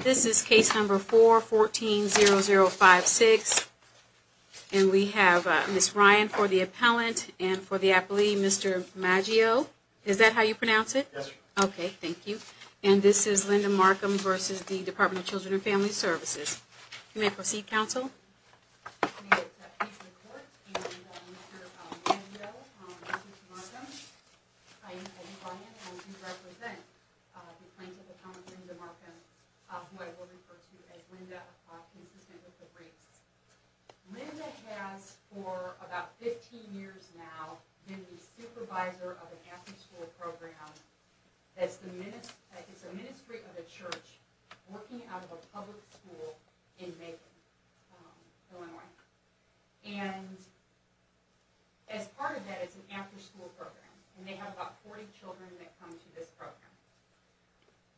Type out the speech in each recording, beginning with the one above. This is case number four fourteen zero zero five six and we have miss Ryan for the appellant and for the appellee Mr. Maggio, is that how you pronounce it? Okay. Thank you. And this is Linda Markham versus the Department of Children and Family Services You may proceed counsel Linda Markham, who I will refer to as Linda, consistent with the briefs. Linda has, for about fifteen years now, been the supervisor of an after school program that's the ministry of a church working out of a public school in Macon, Illinois. And as part of that, it's an after school program and they have about forty children that come to this program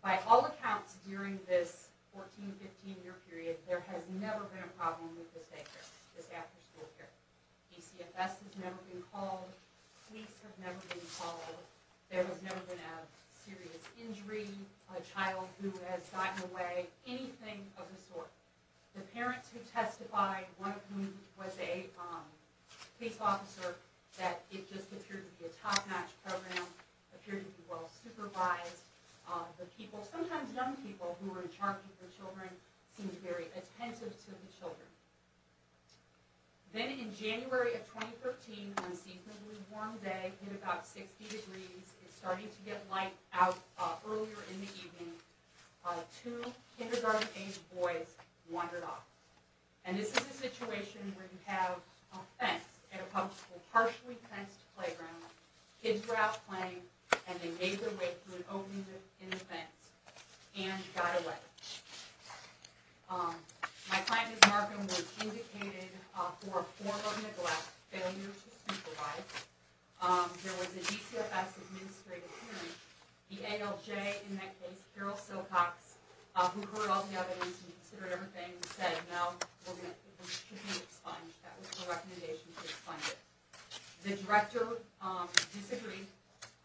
By all accounts, during this fourteen, fifteen year period, there has never been a problem with this after school care. DCFS has never been called, police have never been called, there has never been a serious injury, a child who has gotten away, anything of the sort. The parents who testified, one of whom was a police officer, that it just appeared to be a top notch program, appeared to be well supervised. The people, sometimes young people, who were in charge of the children seemed very attentive to the children. Then in January of 2013, on a seasonably warm day, in about sixty degrees, it's starting to get light out earlier in the evening, two kindergarten age boys wandered off. And this is a situation where you have a fence in a public school, partially fenced playground. Kids were out playing and they made their way through and opened the fence and got away. My client, Ms. Markham, was indicated for a form of neglect, failure to supervise. There was a DCFS administrative hearing. The ALJ, in that case, Carol Silcox, who heard all the evidence and considered everything, said no, it should be expunged. That was the recommendation to expunge it. The director disagreed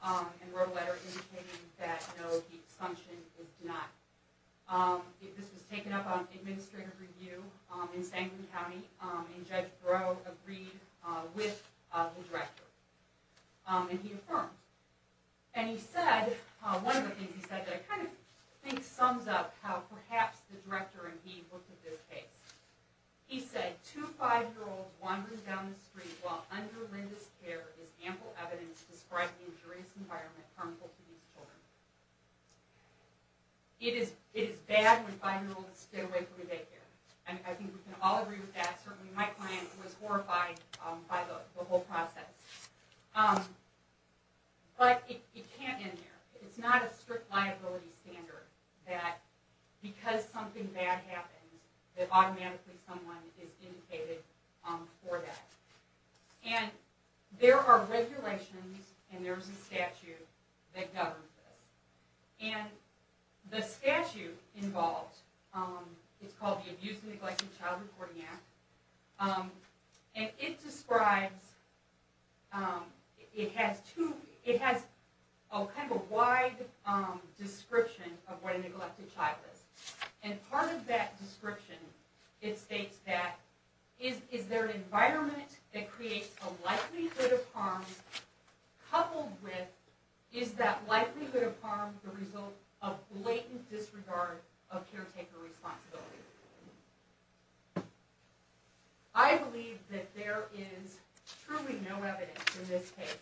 and wrote a letter indicating that no, the expunsion is denied. This was taken up on administrative review in Sanford County and Judge Breaux agreed with the director. And he affirmed. And he said, one of the things he said that I kind of think sums up how perhaps the director and he looked at this case. He said, two five-year-olds wandering down the street while under Linda's care is ample evidence describing the injurious environment harmful to these children. It is bad when five-year-olds get away from a daycare. And I think we can all agree with that. Certainly my client was horrified by the whole process. But it can't end there. It's not a strict liability standard that because something bad happens that automatically someone is indicated for that. And there are regulations and there's a statute that governs this. And the statute involved, it's called the Abuse and Neglected Child Reporting Act. And it describes, it has two, it has a kind of wide description of what a neglected child is. And part of that description, it states that, is there an environment that creates a likelihood of harm coupled with, is that likelihood of harm the result of blatant disregard of caretaker responsibility? I believe that there is truly no evidence in this case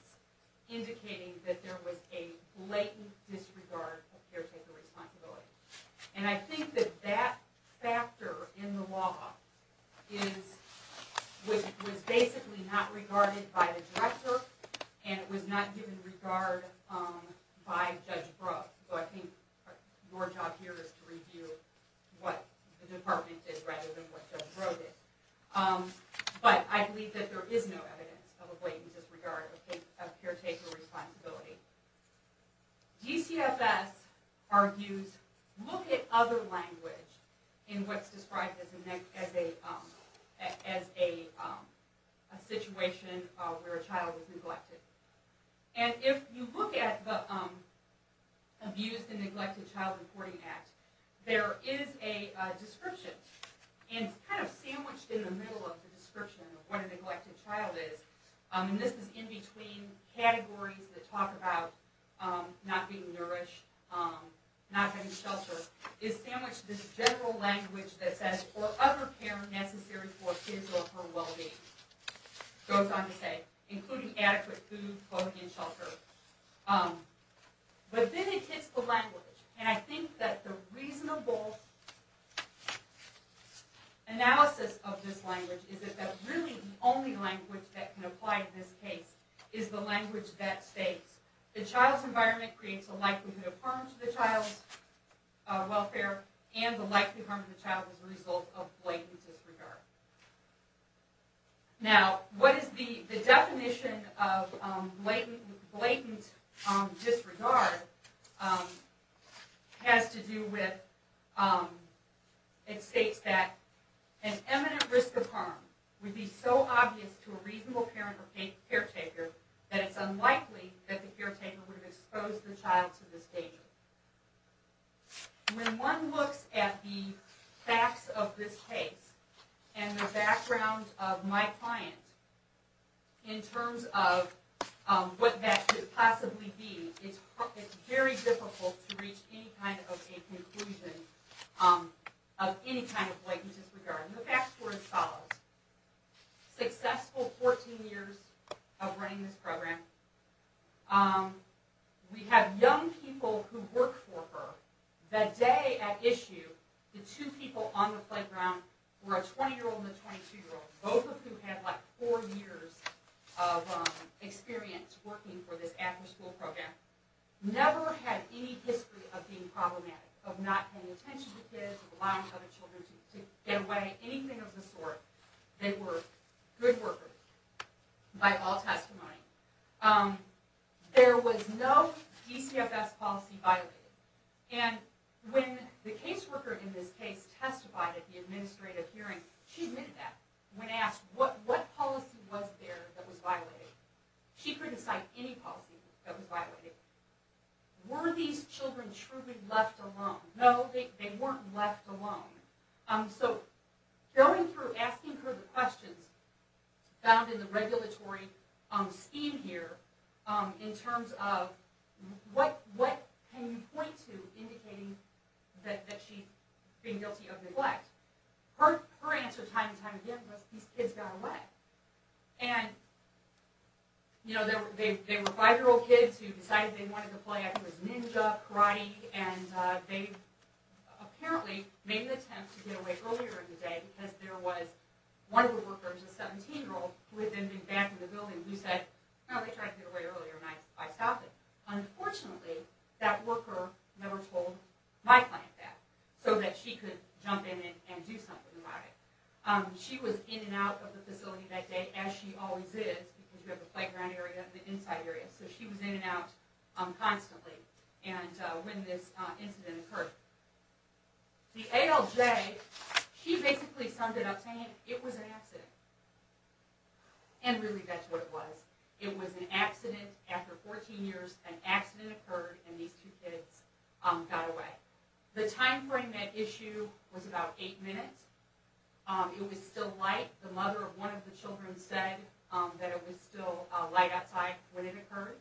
indicating that there was a blatant disregard of caretaker responsibility. And I think that that factor in the law is, was basically not regarded by the director and it was not given regard by Judge Brough. So I think your job here is to review what the department did rather than what Judge Brough did. But I believe that there is no evidence of a blatant disregard of caretaker responsibility. DCFS argues, look at other language in what's described as a situation where a child is neglected. And if you look at the Abuse and Neglected Child Reporting Act, there is a description. And it's kind of sandwiched in the middle of the description of what a neglected child is. And this is in between categories that talk about not being nourished, not getting shelter. It's sandwiched with general language that says, or other care necessary for kids or for well-being. It goes on to say, including adequate food, clothing, and shelter. But then it hits the language. And I think that the reasonable analysis of this language is that really the only language that can apply to this case is the language that states the child's environment creates a likelihood of harm to the child's welfare and the likelihood of harm to the child as a result of blatant disregard. Now, what is the definition of blatant disregard has to do with, it states that an imminent risk of harm would be so obvious to a reasonable parent or caretaker that it's unlikely that the caretaker would have exposed the child to this danger. When one looks at the facts of this case and the background of my client in terms of what that could possibly be, it's very difficult to reach any kind of a conclusion of any kind of blatant disregard. And the facts were as follows. Successful 14 years of running this program. We have young people who worked for her. The day at issue, the two people on the playground were a 20-year-old and a 22-year-old, both of whom had like four years of experience working for this after-school program. Never had any history of being problematic, of not paying attention to kids, of allowing other children to get away, anything of the sort. They were good workers by all testimony. There was no DCFS policy violated. And when the caseworker in this case testified at the administrative hearing, she admitted that. When asked what policy was there that was violated, she couldn't cite any policy that was violated. Were these children truly left alone? No, they weren't left alone. So going through, asking her the questions found in the regulatory scheme here in terms of what can you point to indicating that she's being guilty of neglect, her answer time and time again was these kids got away. And, you know, they were five-year-old kids who decided they wanted to play, I think it was ninja, karate, and they apparently made an attempt to get away earlier in the day because there was one of the workers, a 17-year-old, who had been in the back of the building who said, no, they tried to get away earlier and I stopped them. Unfortunately, that worker never told my client that, so that she could jump in and do something about it. She was in and out of the facility that day, as she always is, because you have the playground area and the inside area, so she was in and out constantly when this incident occurred. The ALJ, she basically summed it up saying it was an accident. And really that's what it was. It was an accident. After 14 years, an accident occurred and these two kids got away. The time frame at issue was about eight minutes. It was still light. The mother of one of the children said that it was still light outside when it occurred.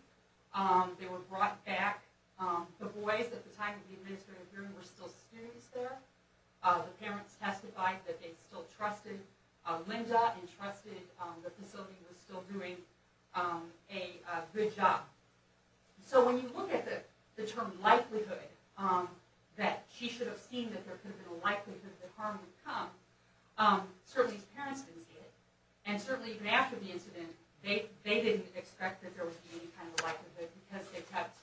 They were brought back. The boys at the time of the administrative hearing were still students there. The parents testified that they still trusted Linda and trusted the facility was still doing a good job. So when you look at the term likelihood, that she should have seen that there could have been a likelihood that harm would come, certainly these parents didn't see it. And certainly even after the incident, they didn't expect that there would be any kind of likelihood because they kept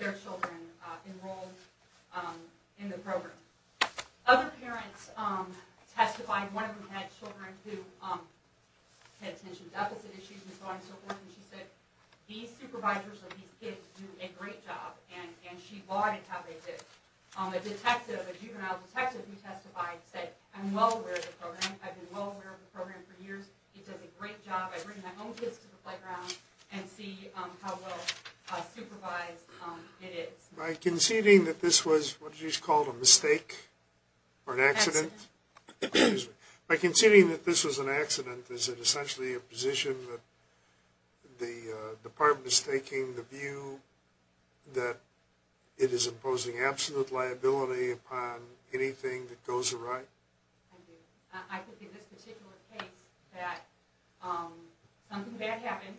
their children enrolled in the program. Other parents testified, one of them had children who had attention deficit issues and so on and so forth, and she said these supervisors of these kids do a great job. And she lauded how they did. A detective, a juvenile detective who testified said, I'm well aware of the program. I've been well aware of the program for years. It does a great job. I bring my own kids to the playground and see how well supervised it is. By conceding that this was what is called a mistake or an accident, by conceding that this was an accident, is it essentially a position that the department is taking the view that it is imposing absolute liability upon anything that goes awry? I do. I think in this particular case that something bad happened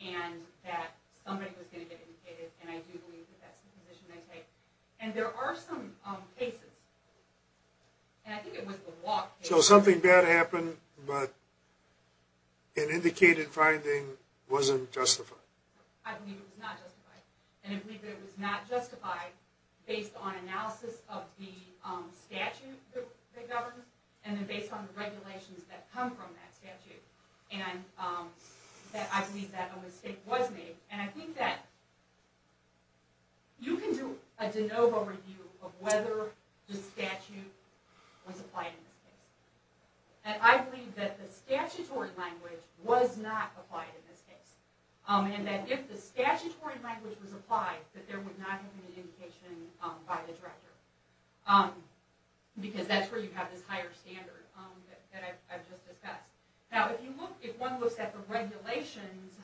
and that somebody was going to get indicated, and I do believe that that's the position they take. And there are some cases, and I think it was the walk case. So something bad happened, but an indicated finding wasn't justified. I believe it was not justified. And I believe that it was not justified based on analysis of the statute that governs and then based on the regulations that come from that statute. And I believe that a mistake was made. And I think that you can do a de novo review of whether the statute was applied in this case. And I believe that the statutory language was not applied in this case. And that if the statutory language was applied, that there would not have been an indication by the director. Because that's where you have this higher standard that I've just discussed. Now if one looks at the regulations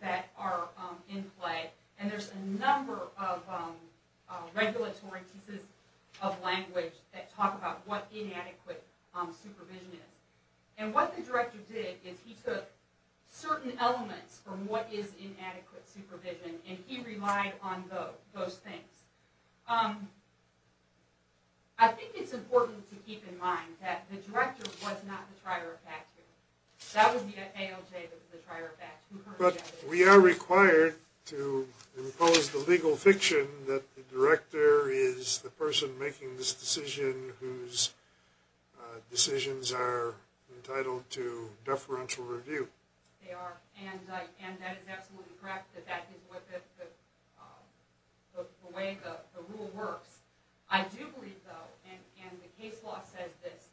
that are in play, and there's a number of regulatory pieces of language that talk about what inadequate supervision is. And what the director did is he took certain elements from what is inadequate supervision and he relied on those things. I think it's important to keep in mind that the director was not the trier of fact here. That was the ALJ that was the trier of fact. But we are required to impose the legal fiction that the director is the person making this decision whose decisions are entitled to deferential review. And that is absolutely correct that that is the way the rule works. I do believe though, and the case law says this,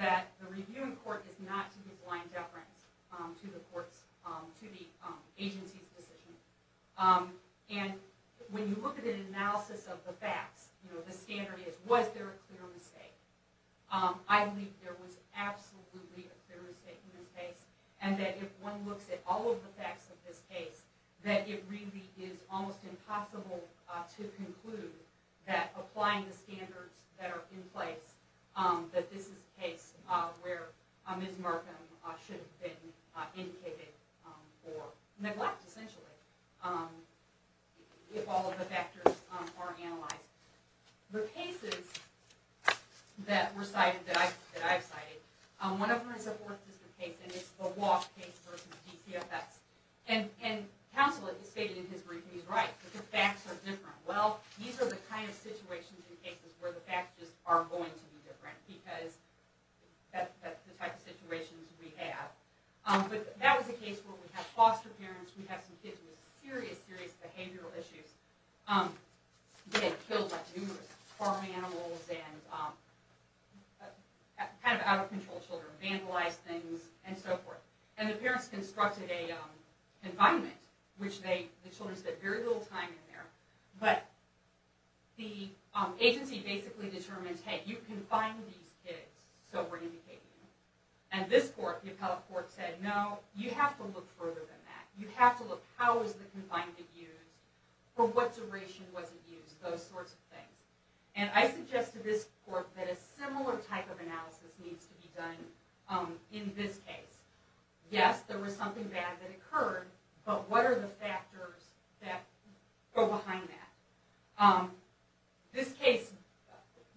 that the review in court is not to be blind deference to the agency's decision. And when you look at an analysis of the facts, the standard is was there a clear mistake? I believe there was absolutely a clear mistake in this case. And that if one looks at all of the facts of this case, that it really is almost impossible to conclude that applying the standards that are in place, that this is a case where Ms. Murtham should have been indicated for neglect essentially. If all of the factors are analyzed. The cases that were cited, that I've cited, one of them is a fourth district case and it's the Walsh case versus DCFS. And counsel has stated in his brief that he's right, that the facts are different. Well, these are the kind of situations in cases where the facts just are going to be different because that's the type of situations we have. But that was a case where we have foster parents, we have some kids with serious, serious behavioral issues. They get killed by numerous farm animals and kind of out of control children, vandalize things and so forth. And the parents constructed a confinement, which the children spent very little time in there. But the agency basically determines, hey, you confine these kids so we're indicating them. And this court, the appellate court said, no, you have to look further than that. You have to look how is the confinement used, for what duration was it used, those sorts of things. And I suggest to this court that a similar type of analysis needs to be done in this case. Yes, there was something bad that occurred, but what are the factors that go behind that? This case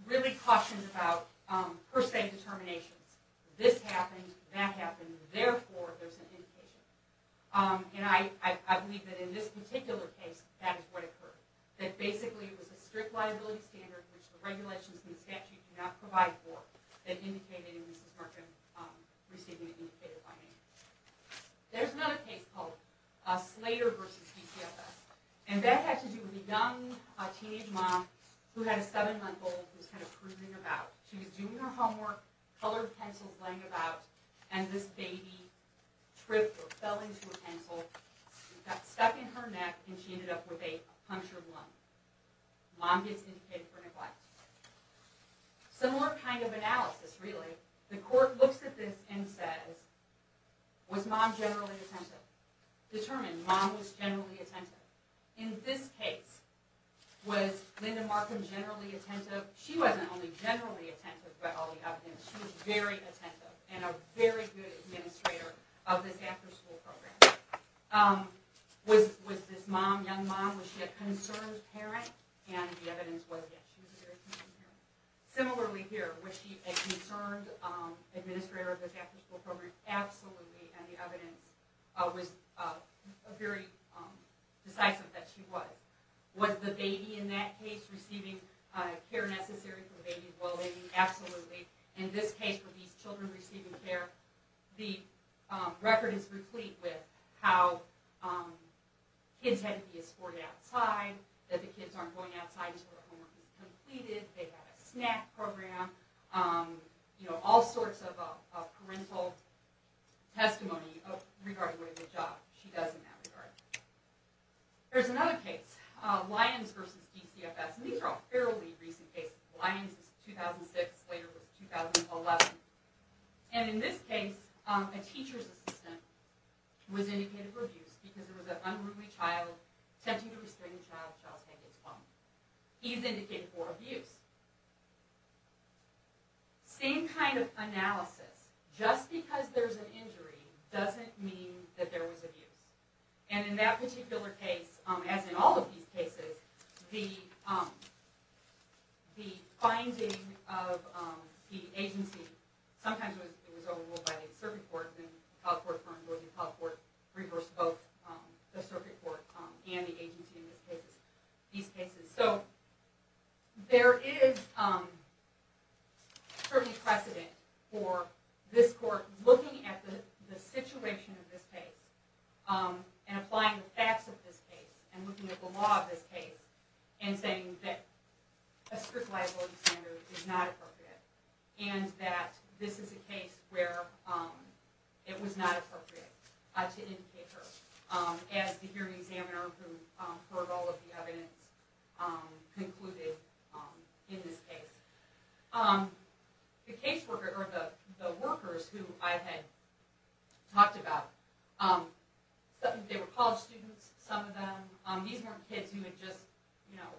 really cautions about per se determinations. This happened, that happened, therefore there's an indication. And I believe that in this particular case, that is what occurred. That basically it was a strict liability standard, which the regulations in the statute do not provide for. That indicated that Mrs. Markham received an indicated fine. There's another case called Slater v. PCFS. And that had to do with a young teenage mom who had a seven-month-old who was kind of cruising about. She was doing her homework, colored pencils laying about, and this baby tripped or fell into a pencil, got stuck in her neck, and she ended up with a punctured lung. Mom gets indicated for neglect. Similar kind of analysis, really. The court looks at this and says, was mom generally attentive? Determine, mom was generally attentive. In this case, was Linda Markham generally attentive? She wasn't only generally attentive, but all the evidence. She was very attentive and a very good administrator of this after-school program. Was this mom, young mom, was she a concerned parent? And the evidence was yes, she was a very concerned parent. Similarly here, was she a concerned administrator of this after-school program? Absolutely, and the evidence was very decisive that she was. Was the baby in that case receiving care necessary for the baby as well as the baby? Absolutely. In this case, were these children receiving care? The record is complete with how kids had to be escorted outside, that the kids aren't going outside until their homework is completed. They got a snack program. You know, all sorts of parental testimony regarding what a good job she does in that regard. There's another case, Lyons v. DCFS. And these are all fairly recent cases. Lyons is 2006, Slater was 2011. And in this case, a teacher's assistant was indicated for abuse because there was an unruly child attempting to restrain the child, the child's hand gets bumped. He's indicated for abuse. Same kind of analysis. Just because there's an injury doesn't mean that there was abuse. And in that particular case, as in all of these cases, the finding of the agency, sometimes it was overruled by the circuit court, then the court reversed both the circuit court and the agency in these cases. So there is certainly precedent for this court looking at the situation of this case and applying the facts of this case and looking at the law of this case and saying that a strict liability standard is not appropriate and that this is a case where it was not appropriate to indicate her as the hearing examiner who heard all of the evidence concluded in this case. The workers who I had talked about, they were college students, some of them. These weren't kids who had just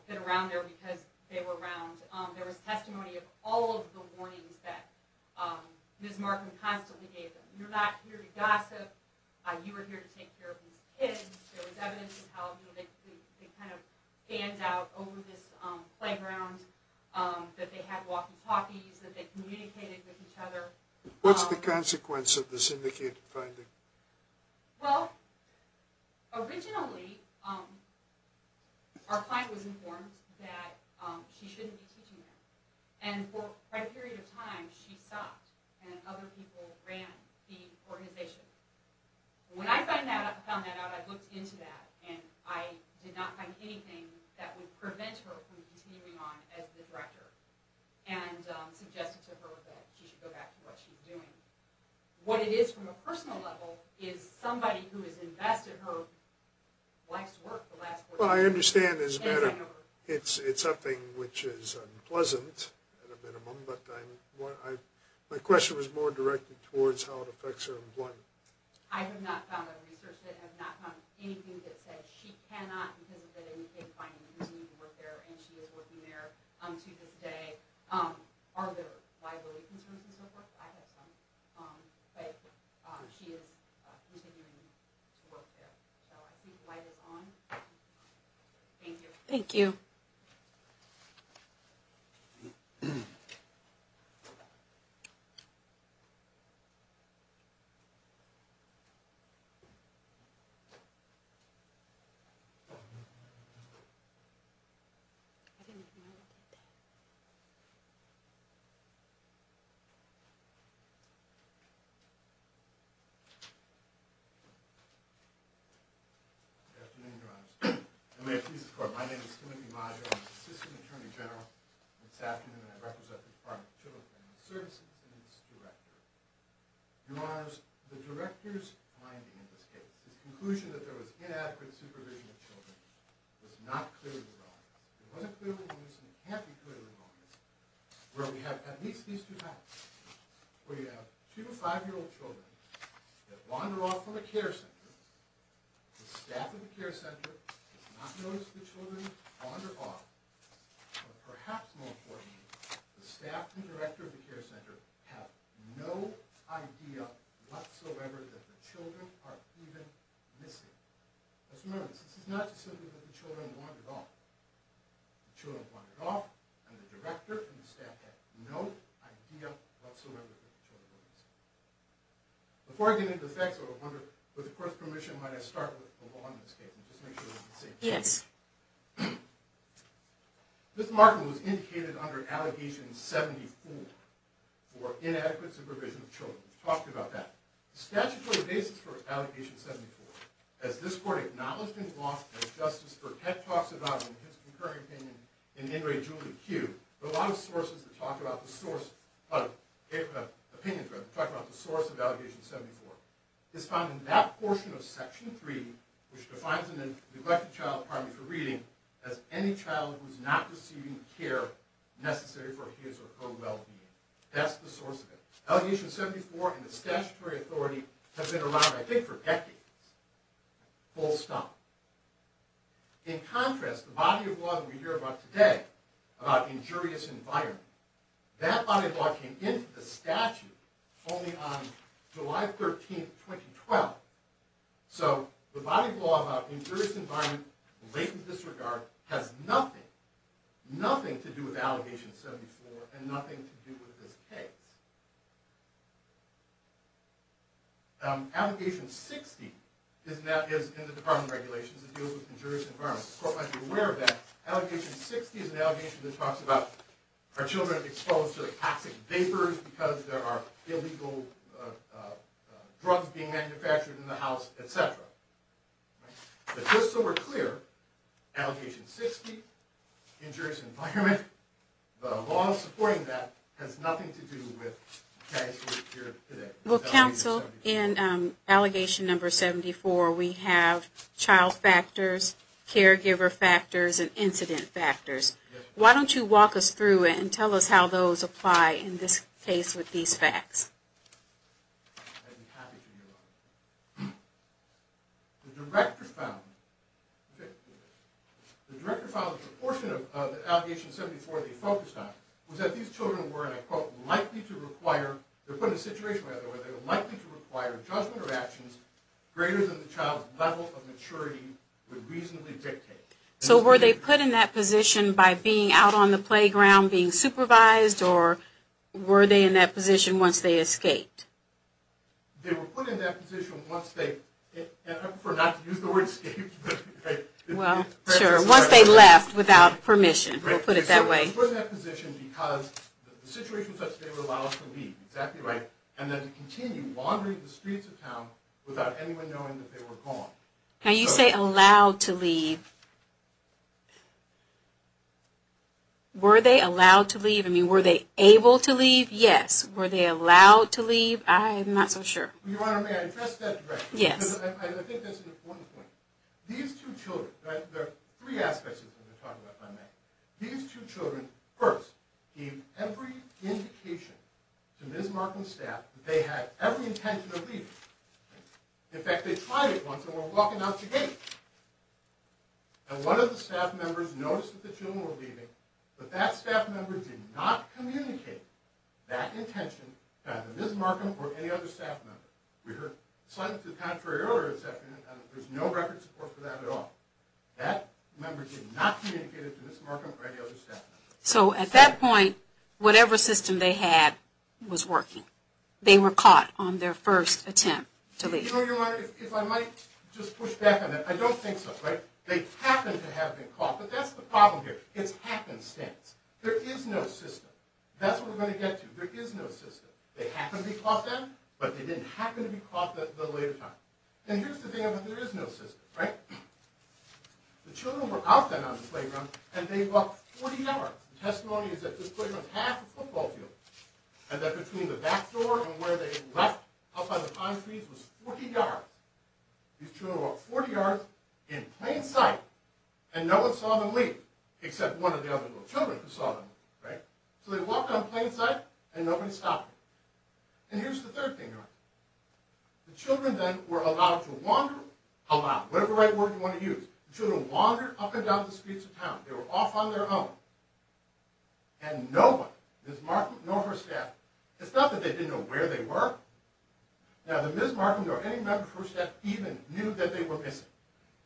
been around there because they were around. There was testimony of all of the warnings that Ms. Markham constantly gave them. You're not here to gossip. You are here to take care of these kids. There was evidence of how they kind of fanned out over this playground that they had walkie-talkies, that they communicated with each other. What's the consequence of this syndicated finding? Well, originally, our client was informed that she shouldn't be teaching there. And for a period of time, she stopped, and other people ran the organization. When I found that out, I looked into that, and I did not find anything that would prevent her from continuing on as the director and suggested to her that she should go back to what she was doing. What it is from a personal level is somebody who has invested her wife's work the last four years. Well, I understand this better. It's something which is unpleasant at a minimum, but my question was more directed towards how it affects her employment. I have not found a research that has not found anything that says she cannot, because of the day-to-day finding, continue to work there, and she is working there to this day. Are there liability concerns and so forth? I have some, but she is continuing to work there. So I think the light is on. Thank you. Thank you. Thank you. Good afternoon, Your Honors. And may it please the Court, my name is Timothy Modger. I'm the assistant attorney general this afternoon, and I represent the Department of Children and Family Services and its director. Your Honors, the director's finding in this case, his conclusion that there was inadequate supervision of children, was not clearly derived. It wasn't clearly produced, and it can't be clearly derived. Where we have at least these two facts. We have two five-year-old children that wander off from a care center. The staff of the care center does not notice the children wander off. But perhaps more importantly, the staff and director of the care center have no idea whatsoever that the children are even missing. Let's remember this. This is not just simply that the children wandered off. The children wandered off, and the director and the staff have no idea whatsoever that the children were missing. Before I get into the facts, I would wonder, with the Court's permission, might I start with the law in this case, and just make sure that we can see. Yes. Ms. Markham was indicated under Allegation 74 for inadequate supervision of children. We've talked about that. The statutory basis for Allegation 74, as this Court acknowledged in law, as Justice Burkett talks about in his concurring opinion in In Re Julie Q, there are a lot of sources that talk about the source of, opinions rather, talk about the source of Allegation 74. It's found in that portion of Section 3, which defines a neglected child, pardon me for reading, as any child who is not receiving care necessary for his or her well-being. That's the source of it. Allegation 74 and the statutory authority have been around, I think, for decades. Full stop. In contrast, the body of law that we hear about today, about injurious environment, that body of law came into the statute only on July 13, 2012. So the body of law about injurious environment, latent disregard, has nothing, nothing to do with Allegation 74, and nothing to do with this case. Allegation 60 is in the Department of Regulations. It deals with injurious environment. The Court might be aware of that. Allegation 60 is an allegation that talks about our children are exposed to the toxic vapors because there are illegal drugs being manufactured in the house, etc. But just so we're clear, Allegation 60, injurious environment, the law supporting that has nothing to do with the case we hear today. Well, Counsel, in Allegation 74, we have child factors, caregiver factors, and incident factors. Why don't you walk us through it and tell us how those apply in this case with these facts? I'd be happy to, Your Honor. The Director found, okay? The Director found the proportion of Allegation 74 they focused on was that these children were, and I quote, likely to require, they're put in a situation where they were likely to require judgment or actions greater than the child's level of maturity would reasonably dictate. So were they put in that position by being out on the playground, being supervised, or were they in that position once they escaped? They were put in that position once they, and I prefer not to use the word escaped. Well, sure, once they left without permission. We'll put it that way. They were put in that position because the situation was such that they were allowed to leave. Exactly right. And then to continue wandering the streets of town without anyone knowing that they were gone. Now, you say allowed to leave. Were they allowed to leave? I mean, were they able to leave? Yes. Were they allowed to leave? I'm not so sure. Your Honor, may I address that directly? Yes. Because I think that's an important point. These two children, right? There are three aspects of what we're talking about tonight. These two children, first, gave every indication to Ms. Markham's staff that they had every intention of leaving. In fact, they tried it once and were walking out the gate. And one of the staff members noticed that the children were leaving, but that staff member did not communicate that intention to either Ms. Markham or any other staff member. We heard slightly to the contrary earlier this afternoon, and there's no record support for that at all. That member did not communicate it to Ms. Markham or any other staff member. So at that point, whatever system they had was working. They were caught on their first attempt to leave. Your Honor, if I might just push back on that. I don't think so, right? They happened to have been caught, but that's the problem here. It's happenstance. There is no system. That's what we're going to get to. There is no system. They happened to be caught then, but they didn't happen to be caught the later time. And here's the thing about there is no system, right? The children were out then on the playground, and they walked 40 yards. The testimony is that this playground is half a football field, and that between the back door and where they left up on the concrete was 40 yards. These children walked 40 yards in plain sight, and no one saw them leave, except one of the other little children who saw them leave, right? So they walked on plain sight, and nobody stopped them. And here's the third thing, Your Honor. The children then were allowed to wander around. Whatever right word you want to use. The children wandered up and down the streets of town. They were off on their own. And no one, Ms. Markham nor her staff, it's not that they didn't know where they were. Now, the Ms. Markham nor any member of her staff even knew that they were missing.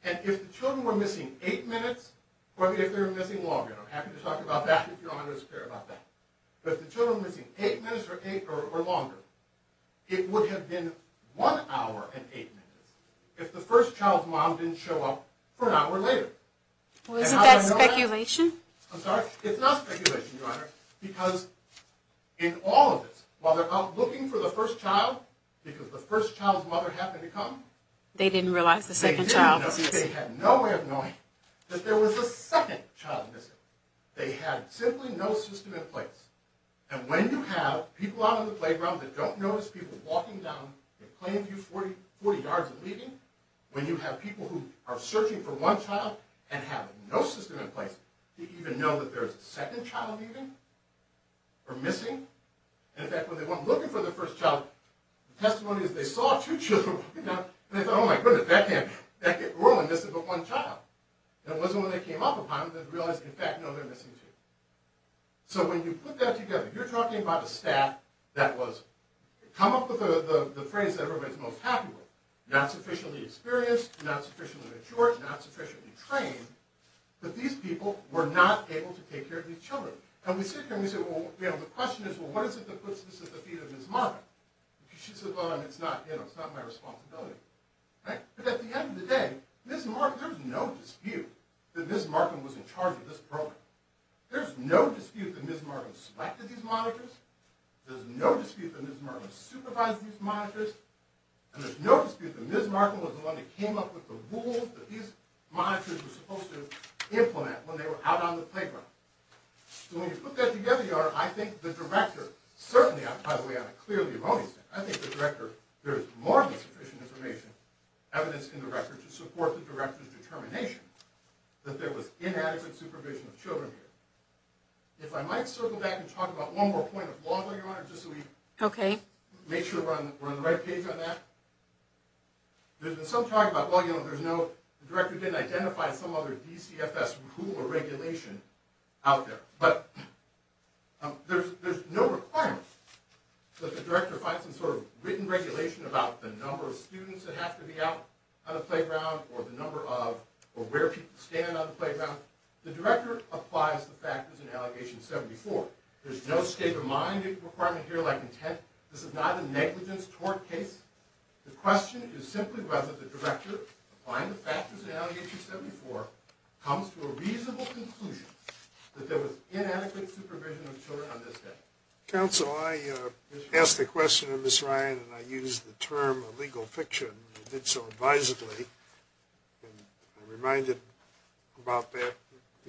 And if the children were missing eight minutes or if they were missing longer, and I'm happy to talk about that if Your Honor is clear about that, but if the children were missing eight minutes or eight or longer, it would have been one hour and eight minutes if the first child's mom didn't show up for an hour later. Well, isn't that speculation? I'm sorry? It's not speculation, Your Honor, because in all of this, while they're out looking for the first child, because the first child's mother happened to come, they didn't realize the second child was missing. They had no way of knowing that there was a second child missing. They had simply no system in place. And when you have people out on the playground that don't notice people walking down a plain view 40 yards and leaving, when you have people who are searching for one child and have no system in place, do you even know that there's a second child leaving or missing? In fact, when they went looking for the first child, the testimony is they saw two children walking down, and they thought, oh my goodness, that can't be. We're only missing but one child. And it wasn't when they came up upon them that they realized, in fact, no, they're missing two. So when you put that together, you're talking about a staff that was, come up with the phrase that everybody's most happy with, not sufficiently experienced, not sufficiently matured, not sufficiently trained, but these people were not able to take care of these children. And we sit here and we say, well, you know, the question is, well, what is it that puts this at the feet of Ms. Marvin? She said, well, it's not, you know, it's not my responsibility. But at the end of the day, Ms. Marvin, there's no dispute that Ms. Marvin was in charge of this program. There's no dispute that Ms. Marvin selected these monitors. There's no dispute that Ms. Marvin supervised these monitors. And there's no dispute that Ms. Marvin was the one that came up with the rules that these monitors were supposed to implement when they were out on the playground. So when you put that together, you are, I think, the director, certainly, by the way, I'm clearly a voting center, I think the director, there is more than sufficient information, evidence in the record, to support the director's determination that there was inadequate supervision of children here. If I might circle back and talk about one more point of law, Your Honor, just so we make sure we're on the right page on that. There's been some talk about, well, you know, there's no, the director didn't identify some other DCFS rule or regulation out there. But there's no requirement that the director find some sort of written regulation about the number of students that have to be out on the playground, or the number of, or where people stand on the playground. The director applies the factors in Allegation 74. There's no state of mind requirement here like intent. This is not a negligence tort case. The question is simply whether the director, applying the factors in Allegation 74, comes to a reasonable conclusion that there was inadequate supervision of children on this day. Counsel, I asked a question of Ms. Ryan, and I used the term illegal fiction, and I did so advisedly. I'm reminded about that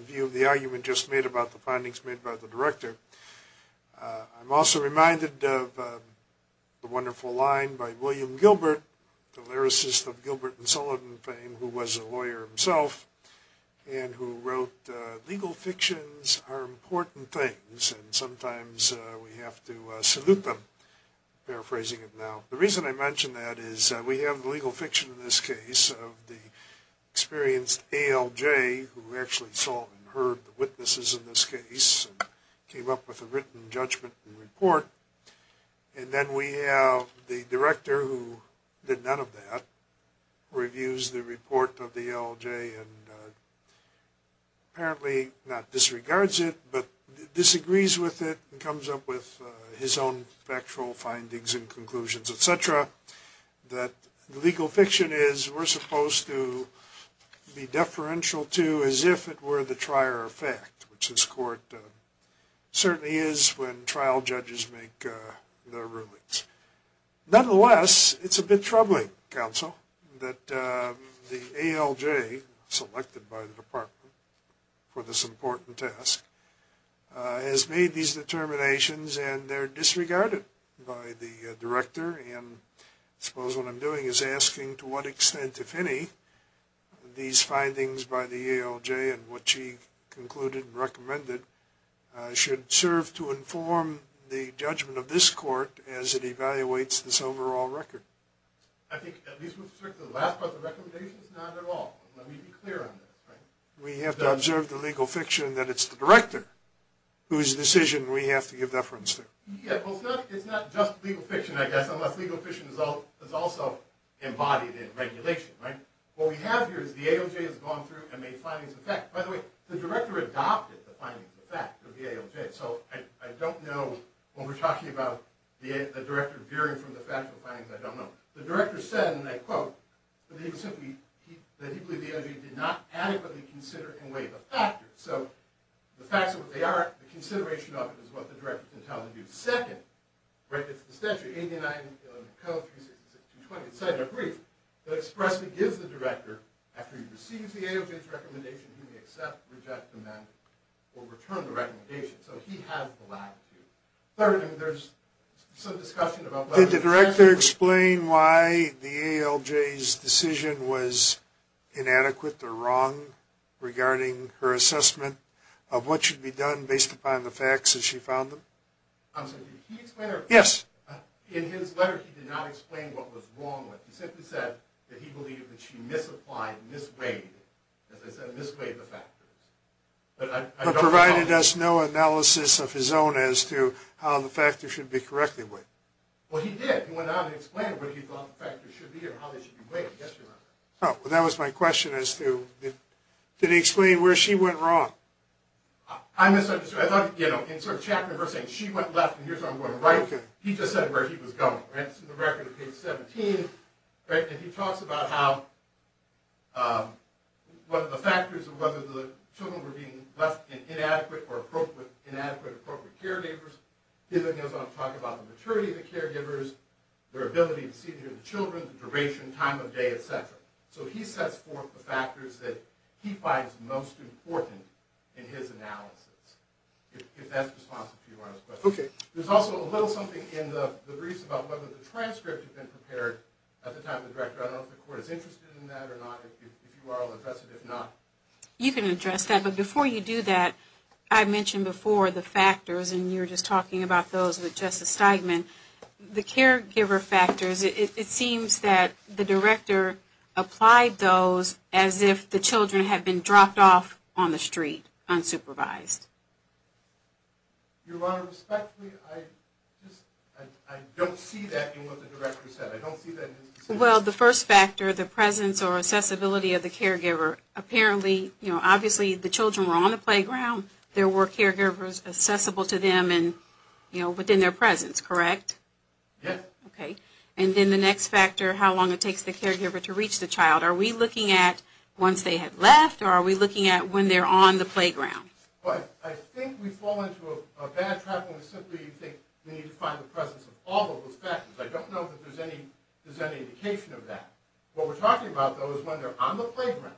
view of the argument just made about the findings made by the director. I'm also reminded of the wonderful line by William Gilbert, the lyricist of Gilbert and Sullivan fame, who was a lawyer himself, and who wrote, legal fictions are important things, and sometimes we have to salute them, paraphrasing it now. The reason I mention that is we have the legal fiction in this case of the experienced ALJ, who actually saw and heard the witnesses in this case, and came up with a written judgment and report. And then we have the director, who did none of that, reviews the report of the ALJ, and apparently not disregards it, but disagrees with it, and comes up with his own factual findings and conclusions, etc. That legal fiction is, we're supposed to be deferential to as if it were the trier of fact, which this court certainly is when trial judges make their rulings. Nonetheless, it's a bit troubling, counsel, that the ALJ, selected by the department for this important task, has made these determinations and they're disregarded by the director, and I suppose what I'm doing is asking to what extent, if any, these findings by the ALJ, and what she concluded and recommended, should serve to inform the judgment of this court as it evaluates this overall record. I think, at least with respect to the last part of the recommendation, it's not at all. Let me be clear on this. We have to observe the legal fiction that it's the director whose decision we have to give deference to. It's not just legal fiction, I guess, unless legal fiction is also embodied in regulation. What we have here is the ALJ has gone through and made findings of fact. By the way, the director adopted the findings of fact of the ALJ, so I don't know, when we're talking about the director veering from the factual findings, I don't know. The director said, and I quote, that he believed the ALJ did not adequately consider and weigh the factors. So, the facts of what they are, the consideration of it is what the director can tell you. Second, right, it's the statute, 89-366-220. It's a brief that expressly gives the director, after he receives the ALJ's recommendation, he may accept, reject, amend, or return the recommendation. So he has the latitude. Third, and there's some discussion about whether... Can you explain why the ALJ's decision was inadequate or wrong regarding her assessment of what should be done based upon the facts as she found them? I'm sorry, can you explain that? Yes. In his letter, he did not explain what was wrong with it. He simply said that he believed that she misapplied, misweighted, as I said, misweighted the factors. But provided us no analysis of his own as to how the factors should be corrected with. Well, he did. He went on and explained what he thought the factors should be and how they should be weighed. Well, that was my question as to... Did he explain where she went wrong? I misunderstood. I thought, you know, in sort of Chapman versus saying she went left and here's how I'm going right, he just said where he was going. It's in the record of page 17. And he talks about how one of the factors of whether the children were being left in inadequate or inappropriate caregivers. He goes on to talk about the maturity of the caregivers, their ability to see the children, the duration, time of day, et cetera. So he sets forth the factors that he finds most important in his analysis. If that's responsive to Your Honor's question. Okay. There's also a little something in the briefs about whether the transcript had been prepared at the time of the director. I don't know if the court is interested in that or not. If you are, I'll address it. If not... You can address that. Okay. But before you do that, I mentioned before the factors and you were just talking about those with Justice Steigman. The caregiver factors, it seems that the director applied those as if the children had been dropped off on the street unsupervised. Your Honor, respectfully, I don't see that in what the director said. I don't see that... Well, the first factor, the presence or accessibility of the caregiver, apparently, you know, when the children were on the playground, there were caregivers accessible to them and, you know, within their presence, correct? Yes. Okay. And then the next factor, how long it takes the caregiver to reach the child. Are we looking at once they had left or are we looking at when they're on the playground? Well, I think we fall into a bad trap when we simply think we need to find the presence of all of those factors. I don't know that there's any indication of that. What we're talking about, though, is when they're on the playground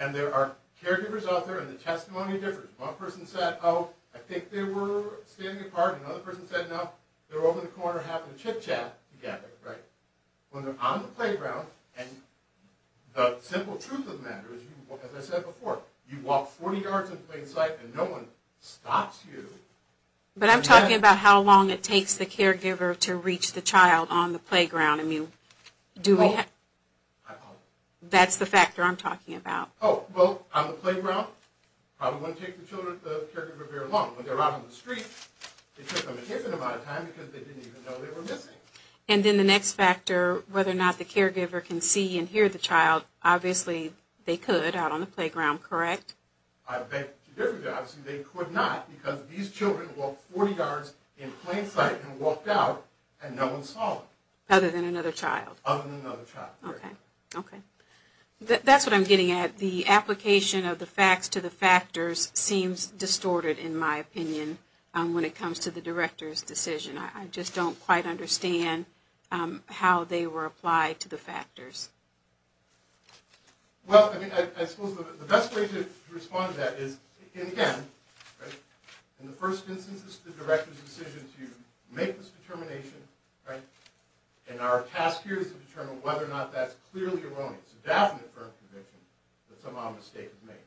and there are caregivers out there and the testimony differs. One person said, oh, I think they were standing apart. Another person said, no, they were over in the corner having a chit-chat together, right? When they're on the playground and the simple truth of the matter is, as I said before, you walk 40 yards in plain sight and no one stops you. But I'm talking about how long it takes the caregiver to reach the child on the playground and you do that. That's the factor I'm talking about. Oh, well, on the playground, probably wouldn't take the caregiver very long. When they're out on the street, it took them an infinite amount of time because they didn't even know they were missing. And then the next factor, whether or not the caregiver can see and hear the child, obviously they could out on the playground, correct? They could not because these children walked 40 yards in plain sight and walked out and no one saw them. Other than another child. Other than another child, correct. Okay. That's what I'm getting at. The application of the facts to the factors seems distorted, in my opinion, when it comes to the director's decision. I just don't quite understand how they were applied to the factors. Well, I mean, I suppose the best way to respond to that is, again, in the first instance, this is the director's decision to make this determination, right? And our task here is to determine whether or not that's clearly erroneous. It's a definite firm conviction that some odd mistake was made.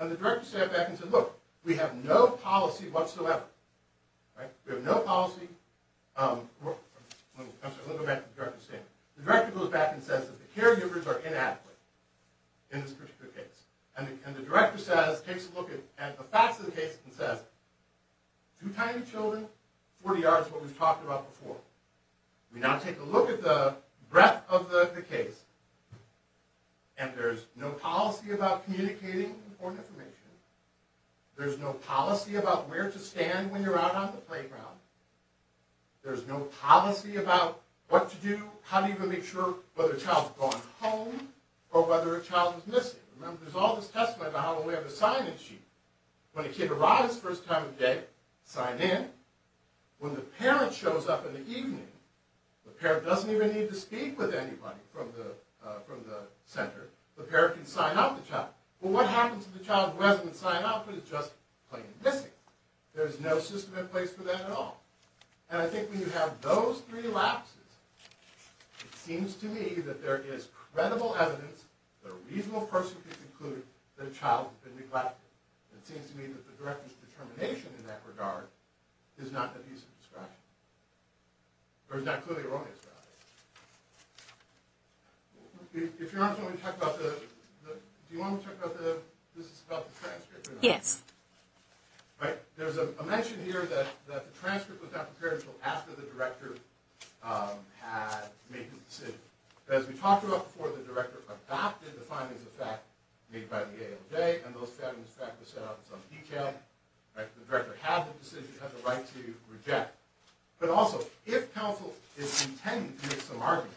And the director sat back and said, look, we have no policy whatsoever. Right? We have no policy. Let me go back to the director's statement. The director goes back and says that the caregivers are inadequate in this particular case. And the director takes a look at the facts of the case and says, two tiny children, 40 yards, what we've talked about before. We now take a look at the breadth of the case, and there's no policy about communicating important information. There's no policy about where to stand when you're out on the playground. There's no policy about what to do, how to even make sure whether a child's gone home or whether a child is missing. Remember, there's all this testimony about how we have a sign-in sheet. When a kid arrives first time of day, sign in. When the parent shows up in the evening, the parent doesn't even need to speak with anybody from the center. The parent can sign out the child. Well, what happens if the child doesn't sign out but is just plain missing? There's no system in place for that at all. And I think when you have those three lapses, it seems to me that there is credible evidence that a reasonable person could conclude that a child has been neglected. It seems to me that the director's determination in that regard is not a piece of discussion, or is not clearly wrong in this regard. If you don't mind, do you want me to talk about the transcript? Yes. There's a mention here that the transcript was not prepared until after the director had made the decision. As we talked about before, the director adopted the findings of fact made by the ALJ, and those findings of fact were set out in some detail. The director had the decision, had the right to reject. But also, if counsel is intending to make some argument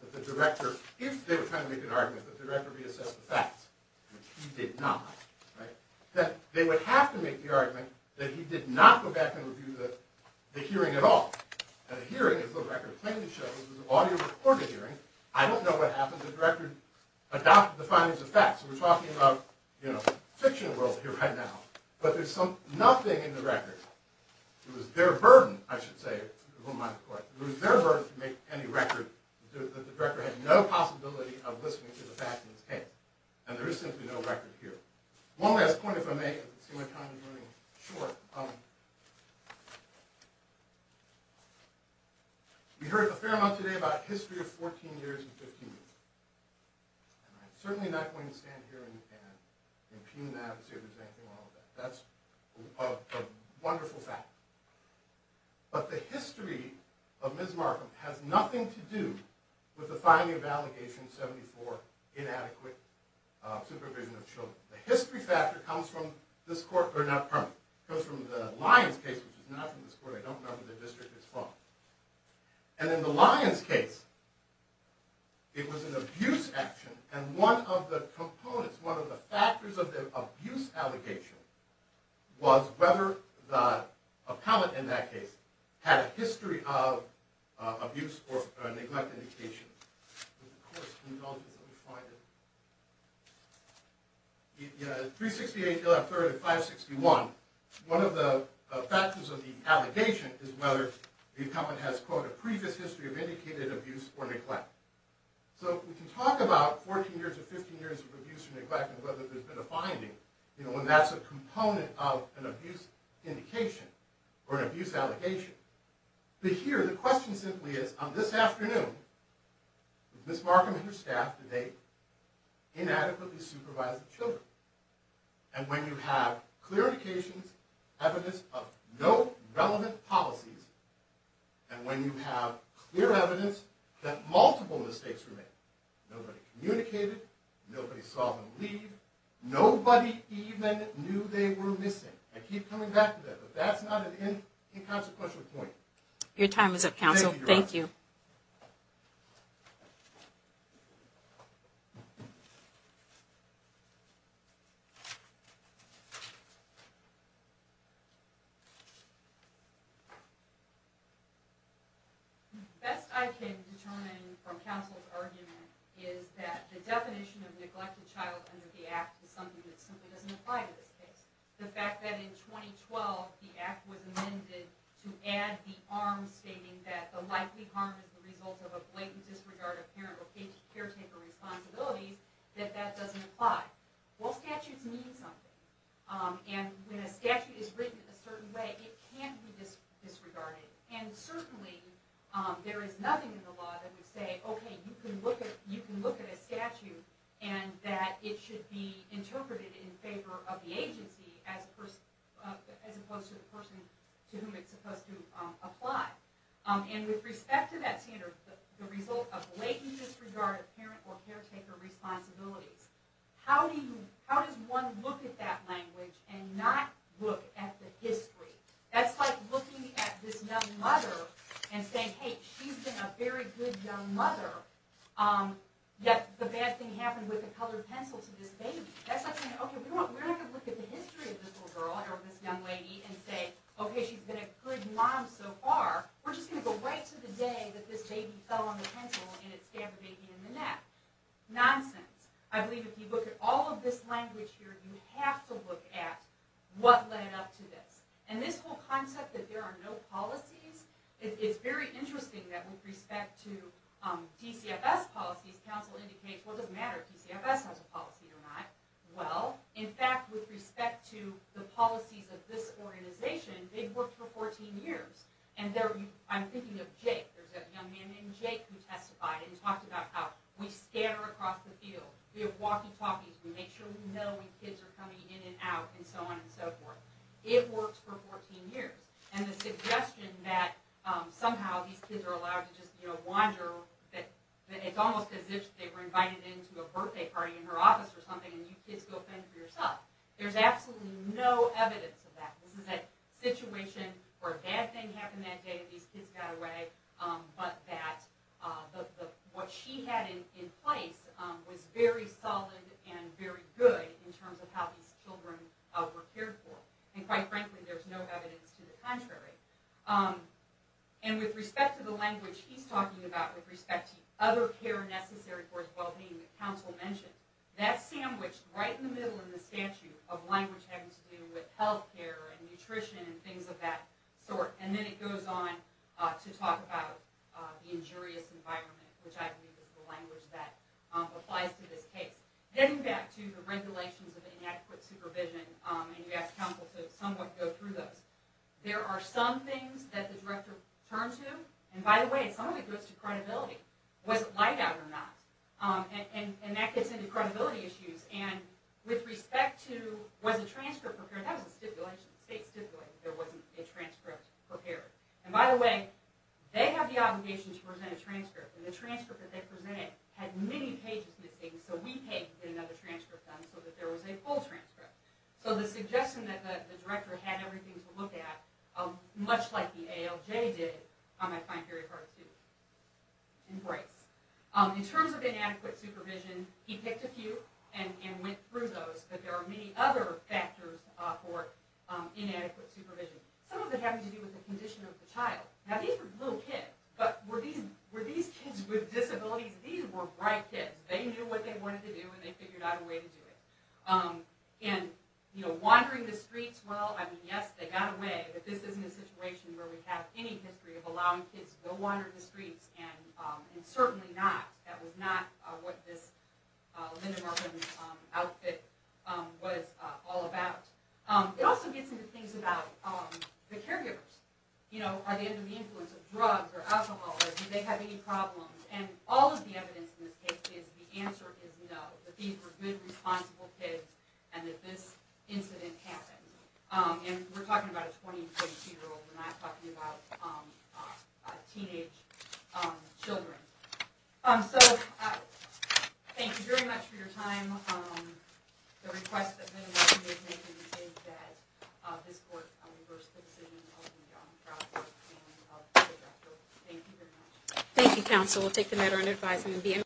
that the director, if they were trying to make an argument that the director reassessed the facts, which he did not, that they would have to make the argument that he did not go back and review the hearing at all. And the hearing, as the record plainly shows, was an audio recorded hearing. I don't know what happened. The director adopted the findings of fact. So we're talking about fiction world here right now. But there's nothing in the record. It was their burden, I should say, if you don't mind, it was their burden to make any record that the director had no possibility of listening to the facts in this case. And there is simply no record here. One last point, if I may, I see my time is running short. We heard a fair amount today about history of 14 years and 15 years. And I'm certainly not going to stand here and impugn that and say there's anything wrong with that. That's a wonderful fact. But the history of Ms. Markham has nothing to do with the finding of Allegation 74, inadequate supervision of children. The history factor comes from the Lyons case, which is not from this court. I don't remember the district it's from. And in the Lyons case, it was an abuse action. And one of the components, one of the factors of the abuse allegation was whether the appellant in that case had a history of abuse or neglect indication. Let me find it. In 368.3 and 561, one of the factors of the allegation is whether the appellant has, quote, a previous history of indicated abuse or neglect. So we can talk about 14 years or 15 years of abuse or neglect and whether there's been a finding, and that's a component of an abuse indication or an abuse allegation. But here, the question simply is, on this afternoon, did Ms. Markham and her staff, did they inadequately supervise the children? And when you have clear indications, evidence of no relevant policies, and when you have clear evidence that multiple mistakes were made, nobody communicated, nobody saw them leave, nobody even knew they were missing. I keep coming back to that, but that's not an inconsequential point. Your time is up, counsel. Thank you. The best I can determine from counsel's argument is that the definition of neglected child under the Act is something that simply doesn't apply to this case. The fact that in 2012, the Act was amended to add the arm stating that the likely harm is the result of a blatant disregard of parent or caretaker responsibilities, that that doesn't apply. Well, statutes mean something. And when a statute is written a certain way, it can't be disregarded. And certainly, there is nothing in the law that would say, okay, you can look at a statute and that it should be interpreted in favor of the agency as opposed to the person to whom it's supposed to apply. And with respect to that standard, the result of blatant disregard of parent or caretaker responsibilities, how does one look at that language and not look at the history? That's like looking at this young mother and saying, hey, she's been a very good young mother, yet the bad thing happened with the colored pencil to this baby. That's like saying, okay, we're not going to look at the history of this little girl or this young lady and say, okay, she's been a good mom so far. We're just going to go right to the day that this baby fell on the pencil and it stabbed the baby in the neck. Nonsense. I believe if you look at all of this language here, you have to look at what led up to this. And this whole concept that there are no policies, it's very interesting that with respect to TCFS policies, counsel indicates, well, it doesn't matter if TCFS has a policy or not. Well, in fact, with respect to the policies of this organization, they've worked for 14 years. And I'm thinking of Jake. There's a young man named Jake who testified and talked about how we scatter across the field. We have walkie-talkies. We make sure we know when kids are coming in and out and so on and so forth. It works for 14 years. And the suggestion that somehow these kids are allowed to just wander, that it's almost as if they were invited into a birthday party in her office or something and you kids go fend for yourself, there's absolutely no evidence of that. This is a situation where a bad thing happened that day, these kids got away, but that what she had in place was very solid and very good in terms of how these children were cared for. And quite frankly, there's no evidence to the contrary. And with respect to the language he's talking about, with respect to other care necessary for his well-being that counsel mentioned, that's sandwiched right in the middle of the statute of language having to do with health care and nutrition and things of that sort. And then it goes on to talk about the injurious environment, which I believe is the language that applies to this case. Getting back to the regulations of inadequate supervision, and you asked counsel to somewhat go through those, there are some things that the director turned to, and by the way, some of it goes to credibility. Was it laid out or not? And that gets into credibility issues. And with respect to was the transcript prepared, that was a stipulation, the state stipulated that there wasn't a transcript prepared. And by the way, they have the obligation to present a transcript, and the transcript that they presented had many pages missing, so we had to get another transcript done so that there was a full transcript. So the suggestion that the director had everything to look at, much like the ALJ did, I find very hard to embrace. In terms of inadequate supervision, he picked a few and went through those, but there are many other factors for inadequate supervision. Some of it had to do with the condition of the child. Now these were little kids, but were these kids with disabilities? These were bright kids. They knew what they wanted to do, and they figured out a way to do it. Wandering the streets, well, yes, they got away, but this isn't a situation where we have any history of allowing kids to go wander the streets, and certainly not, that was not what this Linda Morgan outfit was all about. It also gets into things about the caregivers. Are they under the influence of drugs or alcohol, or do they have any problems? And all of the evidence in this case is the answer is no, that these were good, responsible kids, and that this incident happened. And we're talking about a 20- and 22-year-old. We're not talking about teenage children. So thank you very much for your time. The request that Linda was making is that this court reverse the decision of the young child and of the director. Thank you very much. Thank you, counsel. We'll take the matter under advisement.